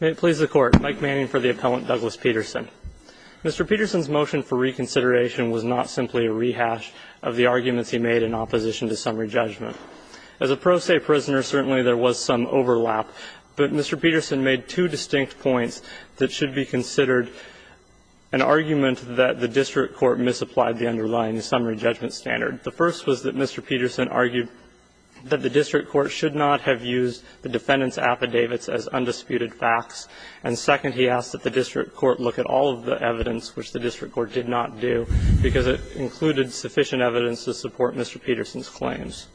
May it please the Court. Mike Manning for the Appellant, Douglas Peterson. Mr. Peterson's motion for reconsideration was not simply a rehash of the arguments he made in opposition to summary judgment. As a pro se prisoner, certainly there was some overlap, but Mr. Peterson made two distinct points that should be considered an argument that the district court misapplied the underlying summary judgment standard. The first was that Mr. Peterson argued that the district court should not have used the defendant's affidavits as undisputed facts. And second, he asked that the district court look at all of the evidence which the district court did not do, because it included sufficient evidence to support Mr. Peterson's claims.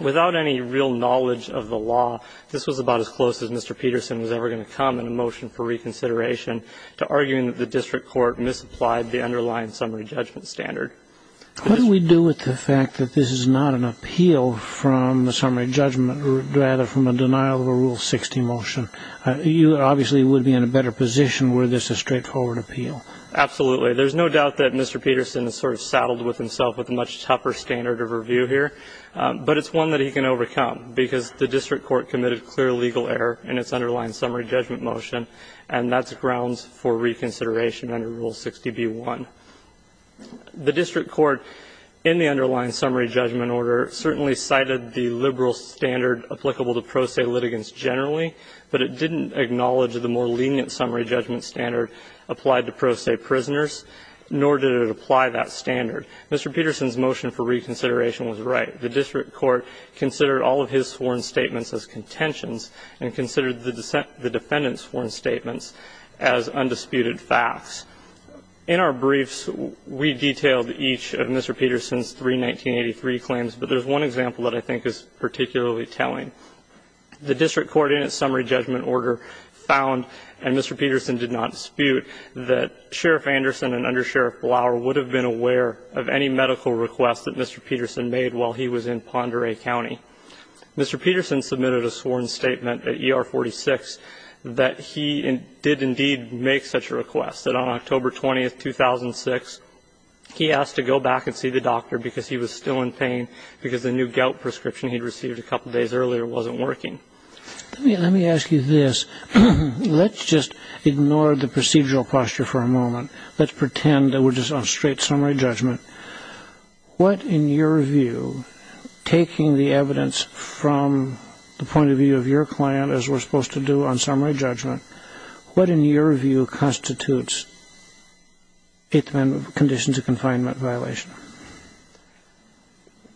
Without any real knowledge of the law, this was about as close as Mr. Peterson was ever going to come in a motion for reconsideration to arguing that the district court misapplied the underlying summary judgment standard. What do we do with the fact that this is not an appeal from the summary judgment rather from a denial of a Rule 60 motion? You obviously would be in a better position were this a straightforward appeal. Absolutely. There's no doubt that Mr. Peterson is sort of saddled with himself with a much tougher standard of review here, but it's one that he can overcome, because the district court committed clear legal error in its underlying summary judgment motion, and that's grounds for reconsideration under Rule 60b-1. The district court, in the underlying summary judgment order, certainly cited the liberal standard applicable to pro se litigants generally, but it didn't acknowledge the more lenient summary judgment standard applied to pro se prisoners, nor did it apply that standard. Mr. Peterson's motion for reconsideration was right. The district court considered all of his sworn statements as contentions and considered the defendant's sworn statements as undisputed facts. In our briefs, we detailed each of Mr. Peterson's three 1983 claims, but there's one example that I think is particularly telling. The district court in its summary judgment order found, and Mr. Peterson did not dispute, that Sheriff Anderson and Under Sheriff Blower would have been aware of any medical requests that Mr. Peterson made while he was in Pend Oreille County. Mr. Peterson submitted a sworn statement at ER 46 that he did indeed make such a request, that on October 20, 2006, he asked to go back and see the doctor because he was still in pain because the new gout prescription he'd received a couple days earlier wasn't working. Let me ask you this. Let's just ignore the procedural posture for a moment. Let's pretend that we're just on straight summary judgment. What in your view, taking the evidence from the point of view of your client as we're supposed to do on summary judgment, what in your view constitutes a condition to confinement violation?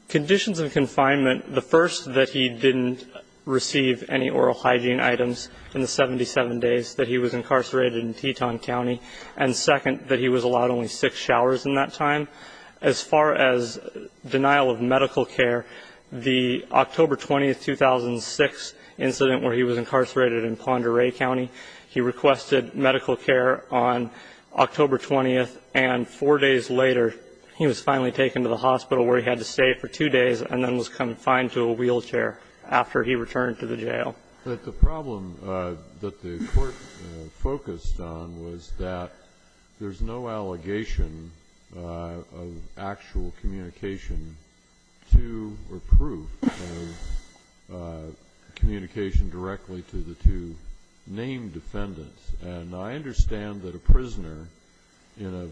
Conditions of confinement, the first, that he didn't receive any oral hygiene items in the 77 days that he was incarcerated in Teton County, and second, that he was allowed only six showers in that time. As far as denial of medical care, the October 20, 2006, incident where he was incarcerated in Pend Oreille County, he requested medical care on October 20, and four days later, he was finally taken to the hospital where he had to stay for two days and then was confined to a wheelchair after he returned to the jail. But the problem that the Court focused on was that there's no allegation of actual communication to or proof of communication directly to the two named defendants. And I understand that a prisoner in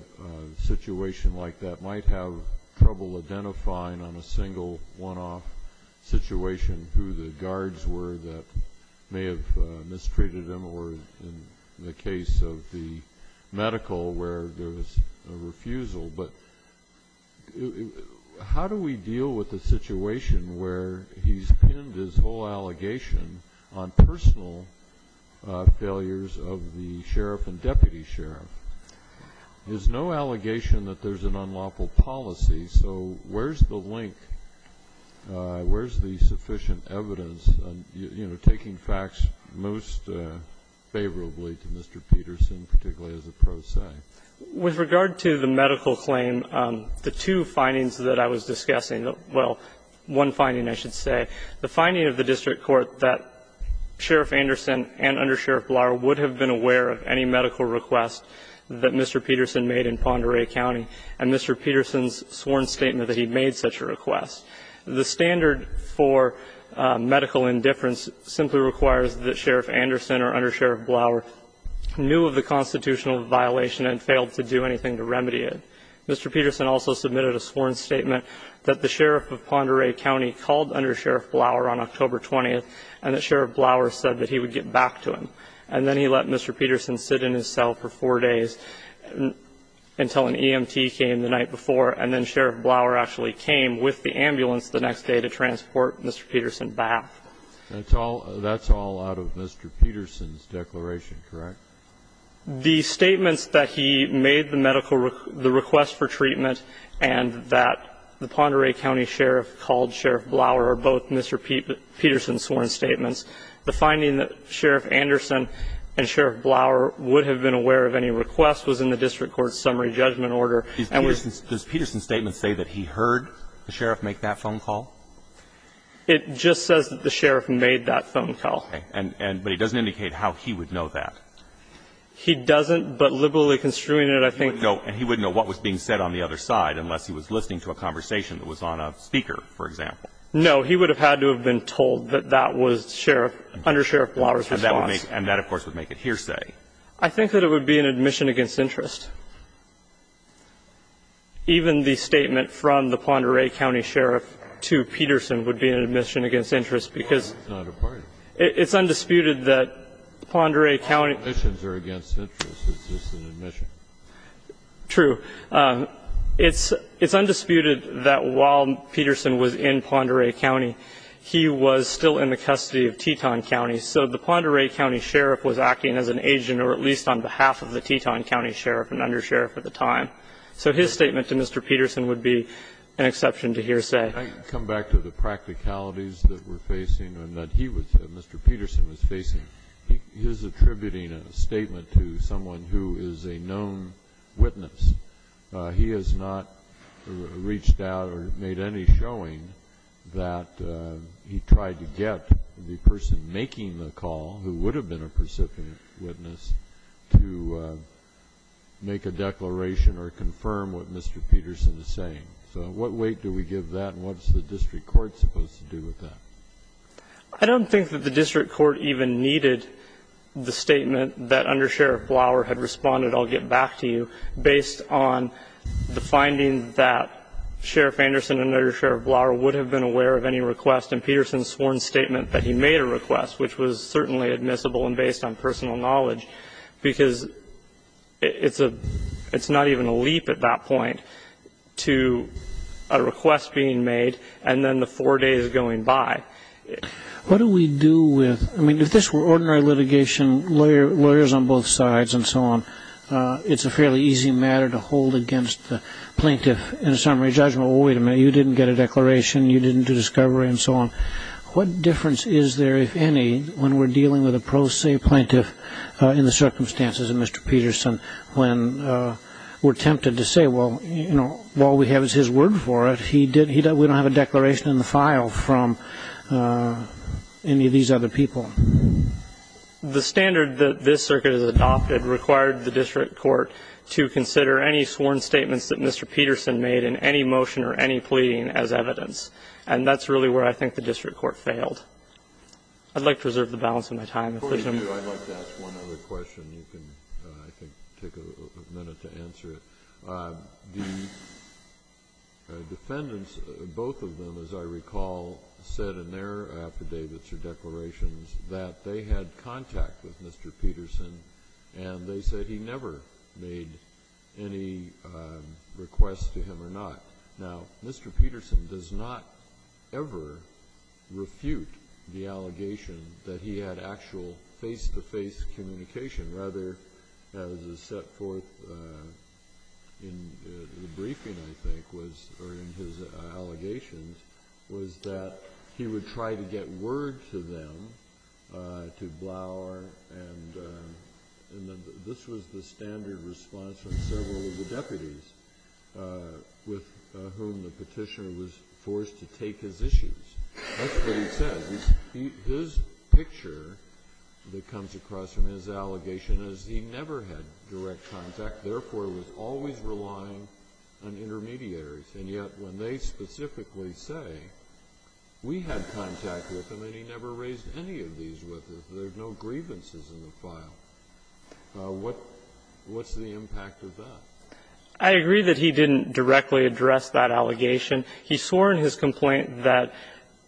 a situation like that might have trouble identifying on a single one-off situation who the guards were that may have mistreated him or in the case of the medical where there was a refusal, but how do we deal with a situation where he's pinned his whole allegation on personal failures of the sheriff and deputy sheriff? There's no allegation that there's an unlawful policy, so where's the link? Mr. Peterson, particularly as a pro se? With regard to the medical claim, the two findings that I was discussing the one finding I should say. The finding of the district court that Sheriff Anderson and Under Sheriff Blower would have been aware of any medical request that Mr. Peterson made in Pend Oreille County, and Mr. Peterson's sworn statement that he made such a request. The standard for medical indifference simply requires that Sheriff Anderson or Under Sheriff Blower knew of the constitutional violation and failed to do anything to remedy it. Mr. Peterson also submitted a sworn statement that the sheriff of Pend Oreille County called Under Sheriff Blower on October 20th and that Sheriff Blower said that he would get back to him, and then he let Mr. Peterson sit in his cell for four days until an EMT came the night before, and then Sheriff Blower actually came with the ambulance the next day to transport Mr. Peterson back. That's all out of Mr. Peterson's declaration, correct? The statements that he made the medical request for treatment and that the Pend Oreille County sheriff called Sheriff Blower are both Mr. Peterson's sworn statements. The finding that Sheriff Anderson and Sheriff Blower would have been aware of any request was in the district court's summary judgment order. Does Peterson's statement say that he heard the sheriff make that phone call? It just says that the sheriff made that phone call. Okay. And he doesn't indicate how he would know that. He doesn't, but liberally construing it, I think he would know. And he wouldn't know what was being said on the other side unless he was listening to a conversation that was on a speaker, for example. No. He would have had to have been told that that was Sheriff – Under Sheriff Blower's response. And that, of course, would make it hearsay. I think that it would be an admission against interest. Even the statement from the Pend Oreille County sheriff to Peterson would be an admission against interest because – No, it's not a part of it. It's undisputed that Pend Oreille County – Admissions are against interest. It's just an admission. True. It's undisputed that while Peterson was in Pend Oreille County, he was still in the custody of Teton County. So the Pend Oreille County sheriff was acting as an agent or at least on behalf of the Teton County sheriff and undersheriff at the time. So his statement to Mr. Peterson would be an exception to hearsay. Can I come back to the practicalities that we're facing and that he was – Mr. Peterson was facing? He is attributing a statement to someone who is a known witness. He has not reached out or made any showing that he tried to get the person making the call, who would have been a precipient witness, to make a declaration or confirm what Mr. Peterson is saying. So what weight do we give that and what's the district court supposed to do with that? I don't think that the district court even needed the statement that undersheriff Blower had responded, I'll get back to you, based on the finding that Sheriff Anderson and undersheriff Blower would have been aware of any request. And Peterson sworn statement that he made a request, which was certainly admissible and based on personal knowledge. Because it's a – it's not even a leap at that point to a request being made and then the four days going by. What do we do with – I mean, if this were ordinary litigation, lawyers on both sides and so on, it's a fairly easy matter to hold against the plaintiff in a summary judgment. Wait a minute, you didn't get a declaration, you didn't do discovery and so on. What difference is there, if any, when we're dealing with a pro se plaintiff in the circumstances of Mr. Peterson when we're tempted to say, well, you know, all we have is his word for it. We don't have a declaration in the file from any of these other people. The standard that this circuit has adopted required the district court to consider any sworn statements that Mr. Peterson made in any motion or any pleading as evidence. And that's really where I think the district court failed. I'd like to reserve the balance of my time. Kennedy, I'd like to ask one other question. You can, I think, take a minute to answer it. The defendants, both of them, as I recall, said in their affidavits or declarations that they had contact with Mr. Peterson and they said he never made any requests to him or not. Now, Mr. Peterson does not ever refute the allegation that he had actual face-to-face communication. Rather, as is set forth in the briefing, I think, or in his allegations, was that he would try to get word to them, to Blower, and this was the standard response from several of the deputies with whom the petitioner was forced to take his issues. That's what he says. His picture that comes across from his allegation is he never had direct contact, therefore was always relying on intermediaries. And yet when they specifically say, we had contact with him and he never raised any of these with us, there's no grievances in the file, what's the impact of that? I agree that he didn't directly address that allegation. He swore in his complaint that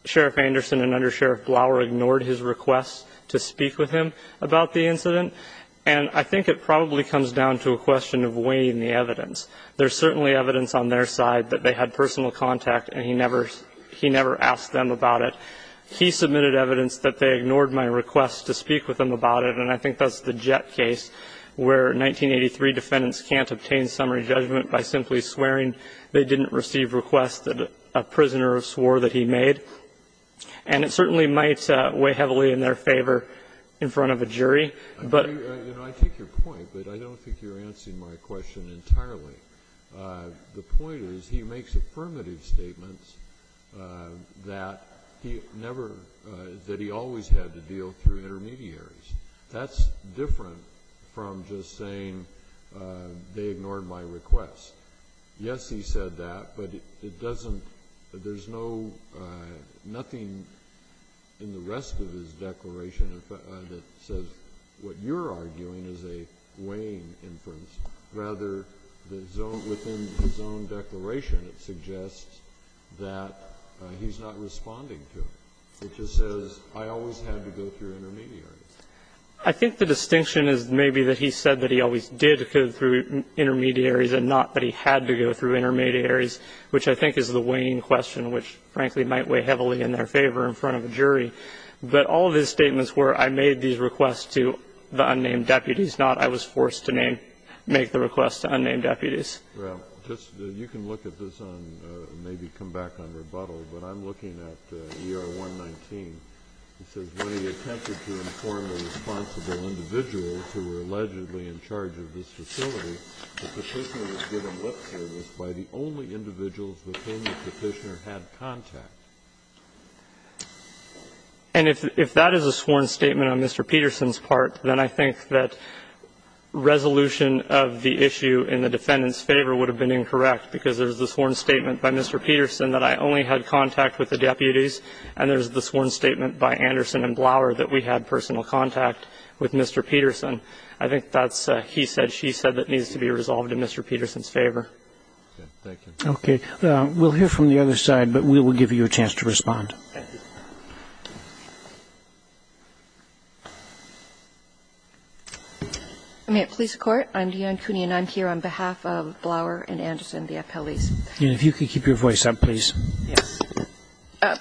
Sheriff Anderson and Under Sheriff Blower ignored his request to speak with him about the incident. And I think it probably comes down to a question of weighing the evidence. There's certainly evidence on their side that they had personal contact and he never asked them about it. He submitted evidence that they ignored my request to speak with him about it. And I think that's the Jett case where 1983 defendants can't obtain summary judgment by simply swearing they didn't receive requests that a prisoner swore that he made. And it certainly might weigh heavily in their favor in front of a jury. I take your point, but I don't think you're answering my question entirely. The point is he makes affirmative statements that he always had to deal through intermediaries. That's different from just saying they ignored my request. Yes, he said that, but there's nothing in the rest of his declaration that says that what you're arguing is a weighing inference. Rather, within the zone declaration, it suggests that he's not responding to it. It just says, I always had to go through intermediaries. I think the distinction is maybe that he said that he always did go through intermediaries and not that he had to go through intermediaries, which I think is the weighing question, which, frankly, might weigh heavily in their favor in front of a jury. But all of his statements were, I made these requests to the unnamed deputies, not I was forced to make the request to unnamed deputies. Well, you can look at this and maybe come back on rebuttal, but I'm looking at ER-119. It says, And if that is a sworn statement on Mr. Peterson's part, then I think that resolution of the issue in the defendant's favor would have been incorrect, because there's the sworn statement by Mr. Peterson that I only had contact with the deputies, and there's the sworn statement by Anderson and Peterson that I only had contact with Mr. Peterson. I think that's, he said, she said, that needs to be resolved in Mr. Peterson's favor. Okay. We'll hear from the other side, but we will give you a chance to respond. I'm here on behalf of Blower and Anderson, the appellees. If you could keep your voice up, please.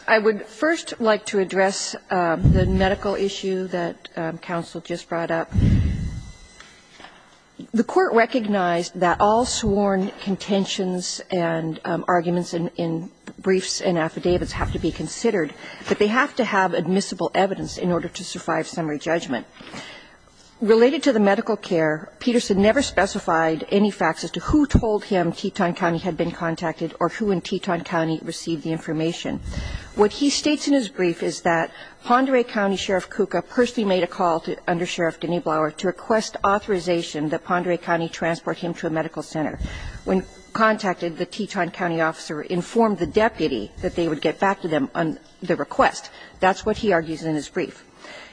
I would first like to address the medical issue that counsel just brought up. The Court recognized that all sworn contentions and arguments in briefs and affidavits have to be considered, that they have to have admissible evidence in order to survive summary judgment. Related to the medical care, Peterson never specified any facts as to who told him the information. What he states in his brief is that Ponderay County Sheriff Kuka personally made a call under Sheriff Denny Blower to request authorization that Ponderay County transport him to a medical center. When contacted, the Teton County officer informed the deputy that they would get back to them on the request. That's what he argues in his brief.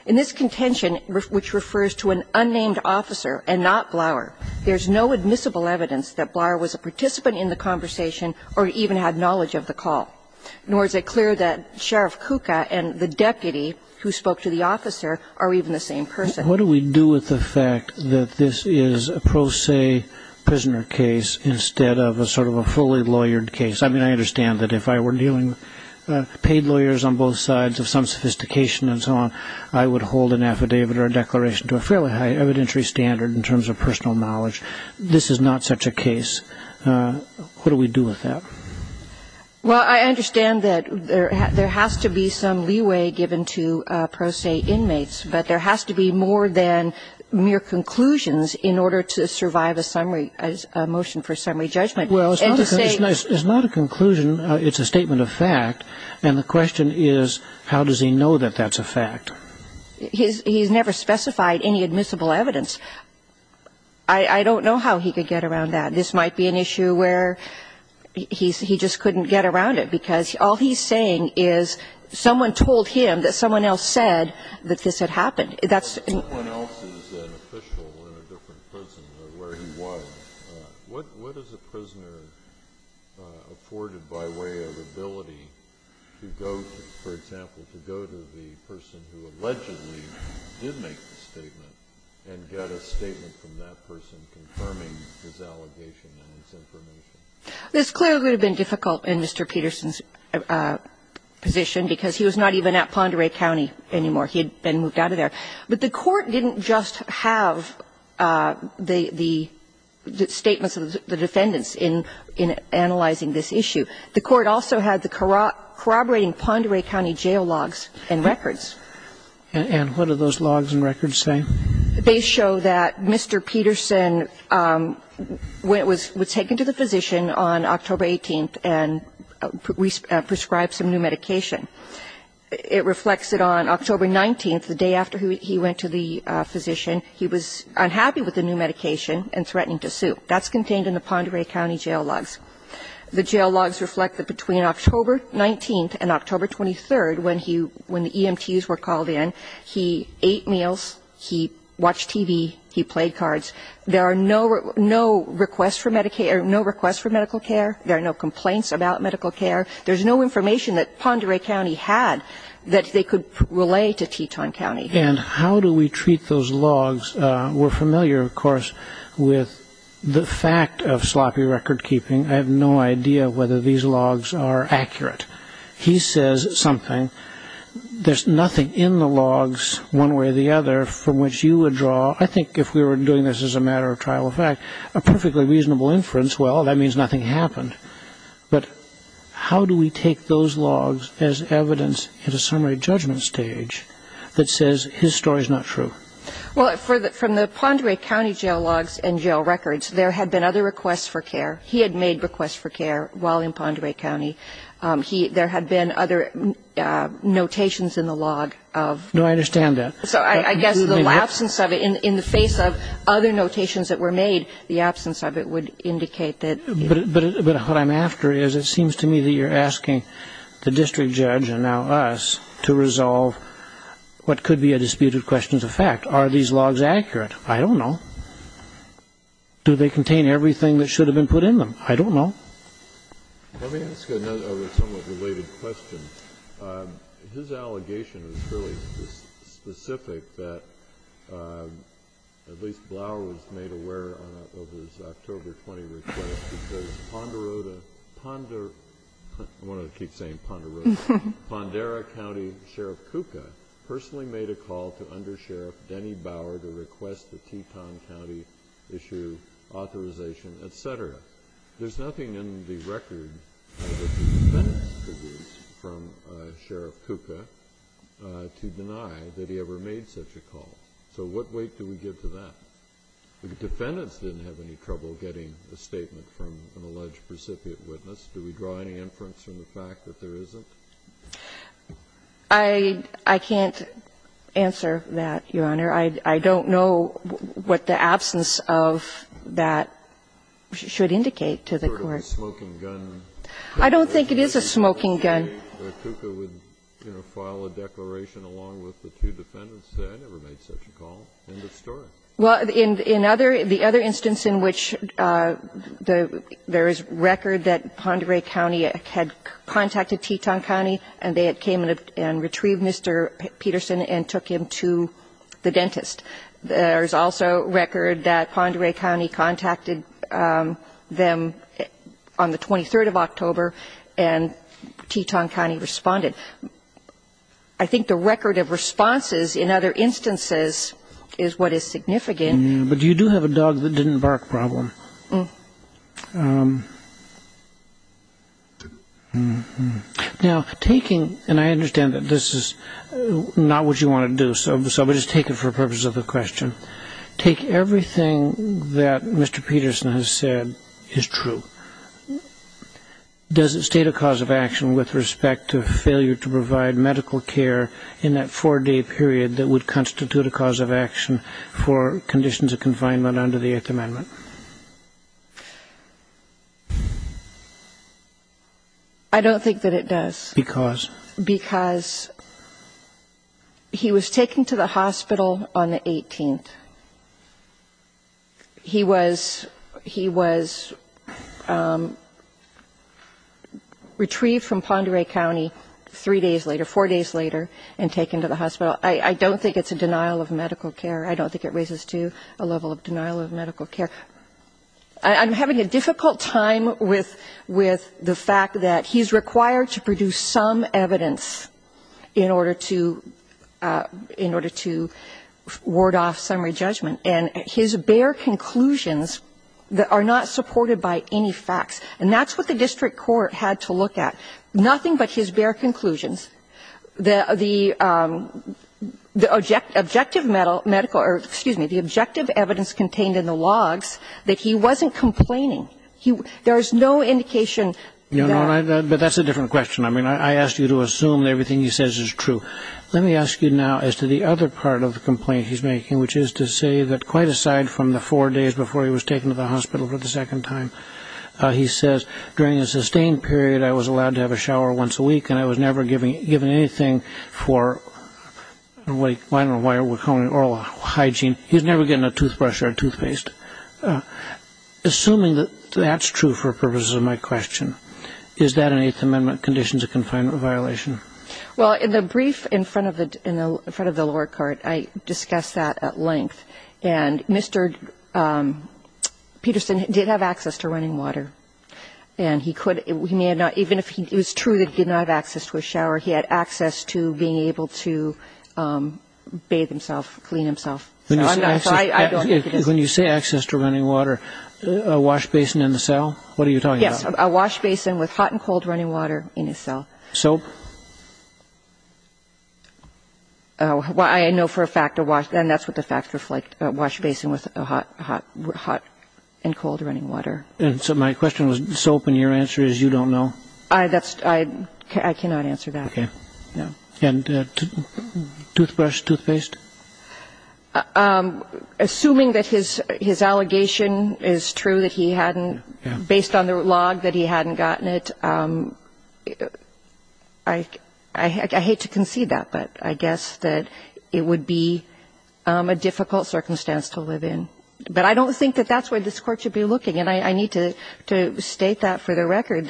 In this contention, which refers to an unnamed officer and not Blower, there's no admissible evidence that Blower was a participant in the conversation or even had knowledge of the call. Nor is it clear that Sheriff Kuka and the deputy who spoke to the officer are even the same person. What do we do with the fact that this is a pro se prisoner case instead of a sort of a fully lawyered case? I mean, I understand that if I were dealing with paid lawyers on both sides of some sophistication and so on, I would hold an affidavit or a declaration to a fairly high evidentiary standard in terms of personal knowledge. This is not such a case. What do we do with that? Well, I understand that there has to be some leeway given to pro se inmates, but there has to be more than mere conclusions in order to survive a summary, a motion for summary judgment. Well, it's not a conclusion. It's a statement of fact. And the question is, how does he know that that's a fact? He's never specified any admissible evidence. I don't know how he could get around that. This might be an issue where he just couldn't get around it, because all he's saying is someone told him that someone else said that this had happened. That's the point. This clearly would have been difficult in Mr. Peterson's position, because he was not even at Pend Oreille County anymore. He had been moved out of there. at Pend Oreille County. And they didn't just have the statements of the defendants in analyzing this issue. The Court also had the corroborating Pend Oreille County jail logs and records. And what do those logs and records say? They show that Mr. Peterson was taken to the physician on October 18th and prescribed some new medication. It reflects that on October 19th, the day after he went to the physician, he was unhappy with the new medication and threatening to sue. That's contained in the Pend Oreille County jail logs. The jail logs reflect that between October 19th and October 23rd, when the EMTs were called in, he ate meals, he watched TV, he played cards. There are no requests for medical care. There are no complaints about medical care. There's no information that Pend Oreille County had that they could relay to Teton County. And how do we treat those logs? We're familiar, of course, with the fact of sloppy record keeping. I have no idea whether these logs are accurate. He says something. There's nothing in the logs, one way or the other, from which you would draw, I think if we were doing this as a matter of trial of fact, a perfectly reasonable inference, well, that means nothing happened. But how do we take those logs as evidence at a summary judgment stage that says his story's not true? Well, from the Pend Oreille County jail logs and jail records, there had been other requests for care. He had made requests for care while in Pend Oreille County. There had been other notations in the log of the EMTs. No, I understand that. So I guess in the absence of it, in the face of other notations that were made, the absence of it would indicate that he had made requests for care. But what I'm after is it seems to me that you're asking the district judge and now us to resolve what could be a disputed questions of fact. Are these logs accurate? I don't know. Do they contain everything that should have been put in them? I don't know. Let me ask another somewhat related question. His allegation was fairly specific that at least Blower was made aware of his October 20 request because Ponderosa County Sheriff Kuka personally made a call to Undersheriff Denny Bower to request the Teton County issue authorization, et cetera. There's nothing in the record that the defendants produced from Sheriff Kuka to deny that he ever made such a call. So what weight do we give to that? The defendants didn't have any trouble getting a statement from an alleged precipiate witness. Do we draw any inference from the fact that there isn't? I can't answer that, Your Honor. I don't know what the absence of that should indicate to the Court. Sort of a smoking gun. I don't think it is a smoking gun. Kuka would, you know, file a declaration along with the two defendants that I never made such a call. End of story. Well, in other the other instance in which there is record that Ponderosa County had contacted Teton County and they had came and retrieved Mr. Peterson and took him to the dentist. There is also record that Ponderosa County contacted them on the 23rd of October and Teton County responded. I think the record of responses in other instances is what is significant. But you do have a dog that didn't bark problem. Now, taking, and I understand that this is not what you want to do, so we'll just take it for the purpose of the question. Take everything that Mr. Peterson has said is true. Does it state a cause of action with respect to failure to provide medical care in that four-day period that would constitute a cause of action for conditions of confinement under the Eighth Amendment? I don't think that it does. Because? Because he was taken to the hospital on the 18th. He was retrieved from Ponderosa County three days later, four days later, and taken to the hospital. I don't think it's a denial of medical care. I don't think it raises to a level of denial of medical care. I'm having a difficult time with the fact that he's required to produce some evidence in order to And his bare conclusions are not supported by any facts. And that's what the district court had to look at. Nothing but his bare conclusions. The objective medical or, excuse me, the objective evidence contained in the logs that he wasn't complaining. There is no indication that. But that's a different question. I mean, I asked you to assume everything he says is true. Let me ask you now as to the other part of the complaint he's making, which is to say that quite aside from the four days before he was taken to the hospital for the second time, he says, during a sustained period, I was allowed to have a shower once a week, and I was never given anything for, I don't know why we're calling it oral hygiene. He was never given a toothbrush or a toothpaste. Assuming that that's true for purposes of my question, is that an Eighth Amendment conditions of confinement violation? Well, in the brief in front of the lower card, I discussed that at length. And Mr. Peterson did have access to running water. And he could, he may have not, even if it was true that he did not have access to a shower, he had access to being able to bathe himself, clean himself. When you say access to running water, a wash basin in the cell? What are you talking about? Yes, a wash basin with hot and cold running water in his cell. Soap? Well, I know for a fact a wash, and that's what the facts reflect, a wash basin with hot and cold running water. And so my question was soap, and your answer is you don't know? I cannot answer that. Okay. And toothbrush, toothpaste? Assuming that his allegation is true, that he hadn't, based on the log, that he hadn't gotten it, I hate to concede that, but I guess that it would be a difficult circumstance to live in. But I don't think that that's where this Court should be looking. And I need to state that for the record,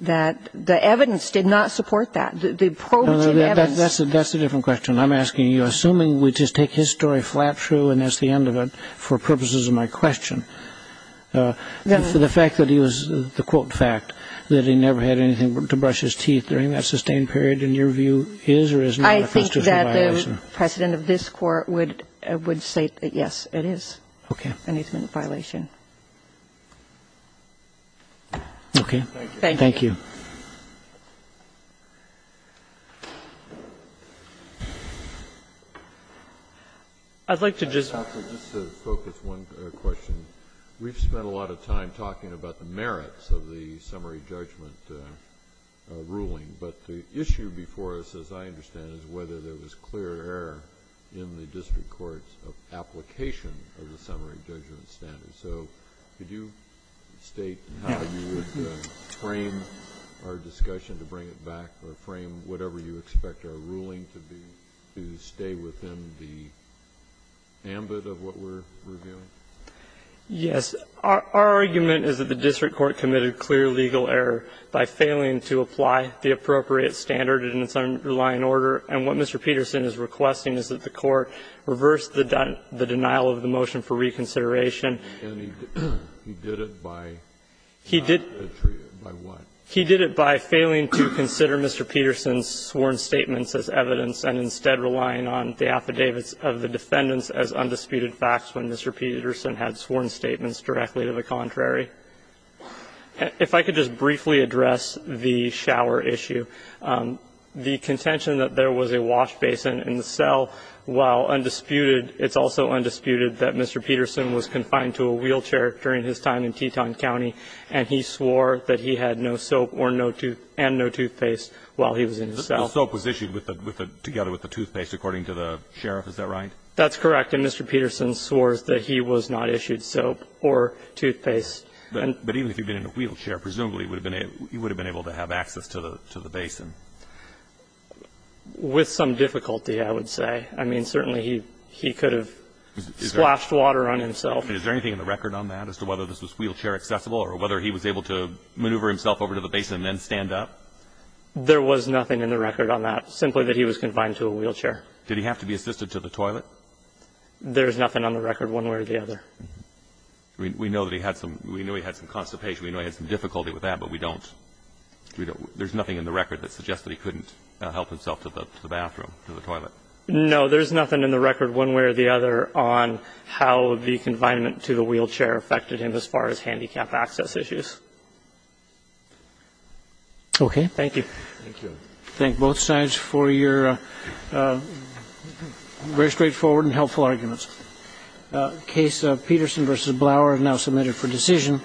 that the evidence did not support that, the probative evidence. That's a different question. I'm asking you, assuming we just take his story flat true and that's the end of it for purposes of my question, the fact that he was, the quote fact, that he never had anything to brush his teeth during that sustained period, in your view, is or is not a constitutional violation? I think that the President of this Court would state that, yes, it is. Okay. And it's not a violation. Okay. Thank you. Thank you. I'd like to just ask, just to focus one question. We've spent a lot of time talking about the merits of the summary judgment ruling. But the issue before us, as I understand it, is whether there was clear error in the district court's application of the summary judgment standard. So could you state how you would frame our discussion to bring it back or frame whatever you expect our ruling to be to stay within the ambit of what we're reviewing? Yes. Our argument is that the district court committed clear legal error by failing to apply the appropriate standard in its underlying order. And what Mr. Peterson is requesting is that the Court reverse the denial of the motion for reconsideration. And he did it by not retreating. By what? He did it by failing to consider Mr. Peterson's sworn statements as evidence and instead relying on the affidavits of the defendants as undisputed facts when Mr. Peterson had sworn statements directly to the contrary. If I could just briefly address the shower issue. The contention that there was a wash basin in the cell, while undisputed, it's also undisputed that Mr. Peterson was confined to a wheelchair during his time in Teton County, and he swore that he had no soap and no toothpaste while he was in the cell. The soap was issued together with the toothpaste, according to the sheriff. Is that right? That's correct. And Mr. Peterson swore that he was not issued soap or toothpaste. But even if he had been in a wheelchair, presumably he would have been able to have access to the basin. With some difficulty, I would say. I mean, certainly he could have splashed water on himself. Is there anything in the record on that as to whether this was wheelchair accessible or whether he was able to maneuver himself over to the basin and then stand up? There was nothing in the record on that, simply that he was confined to a wheelchair. Did he have to be assisted to the toilet? There is nothing on the record one way or the other. We know that he had some constipation. We know he had some difficulty with that, but we don't – there's nothing in the record that suggests that he couldn't help himself to the bathroom, to the toilet. No, there's nothing in the record one way or the other on how the confinement to the wheelchair affected him as far as handicap access issues. Okay. Thank you. Thank you. I thank both sides for your very straightforward and helpful arguments. The case of Peterson v. Blower is now submitted for decision.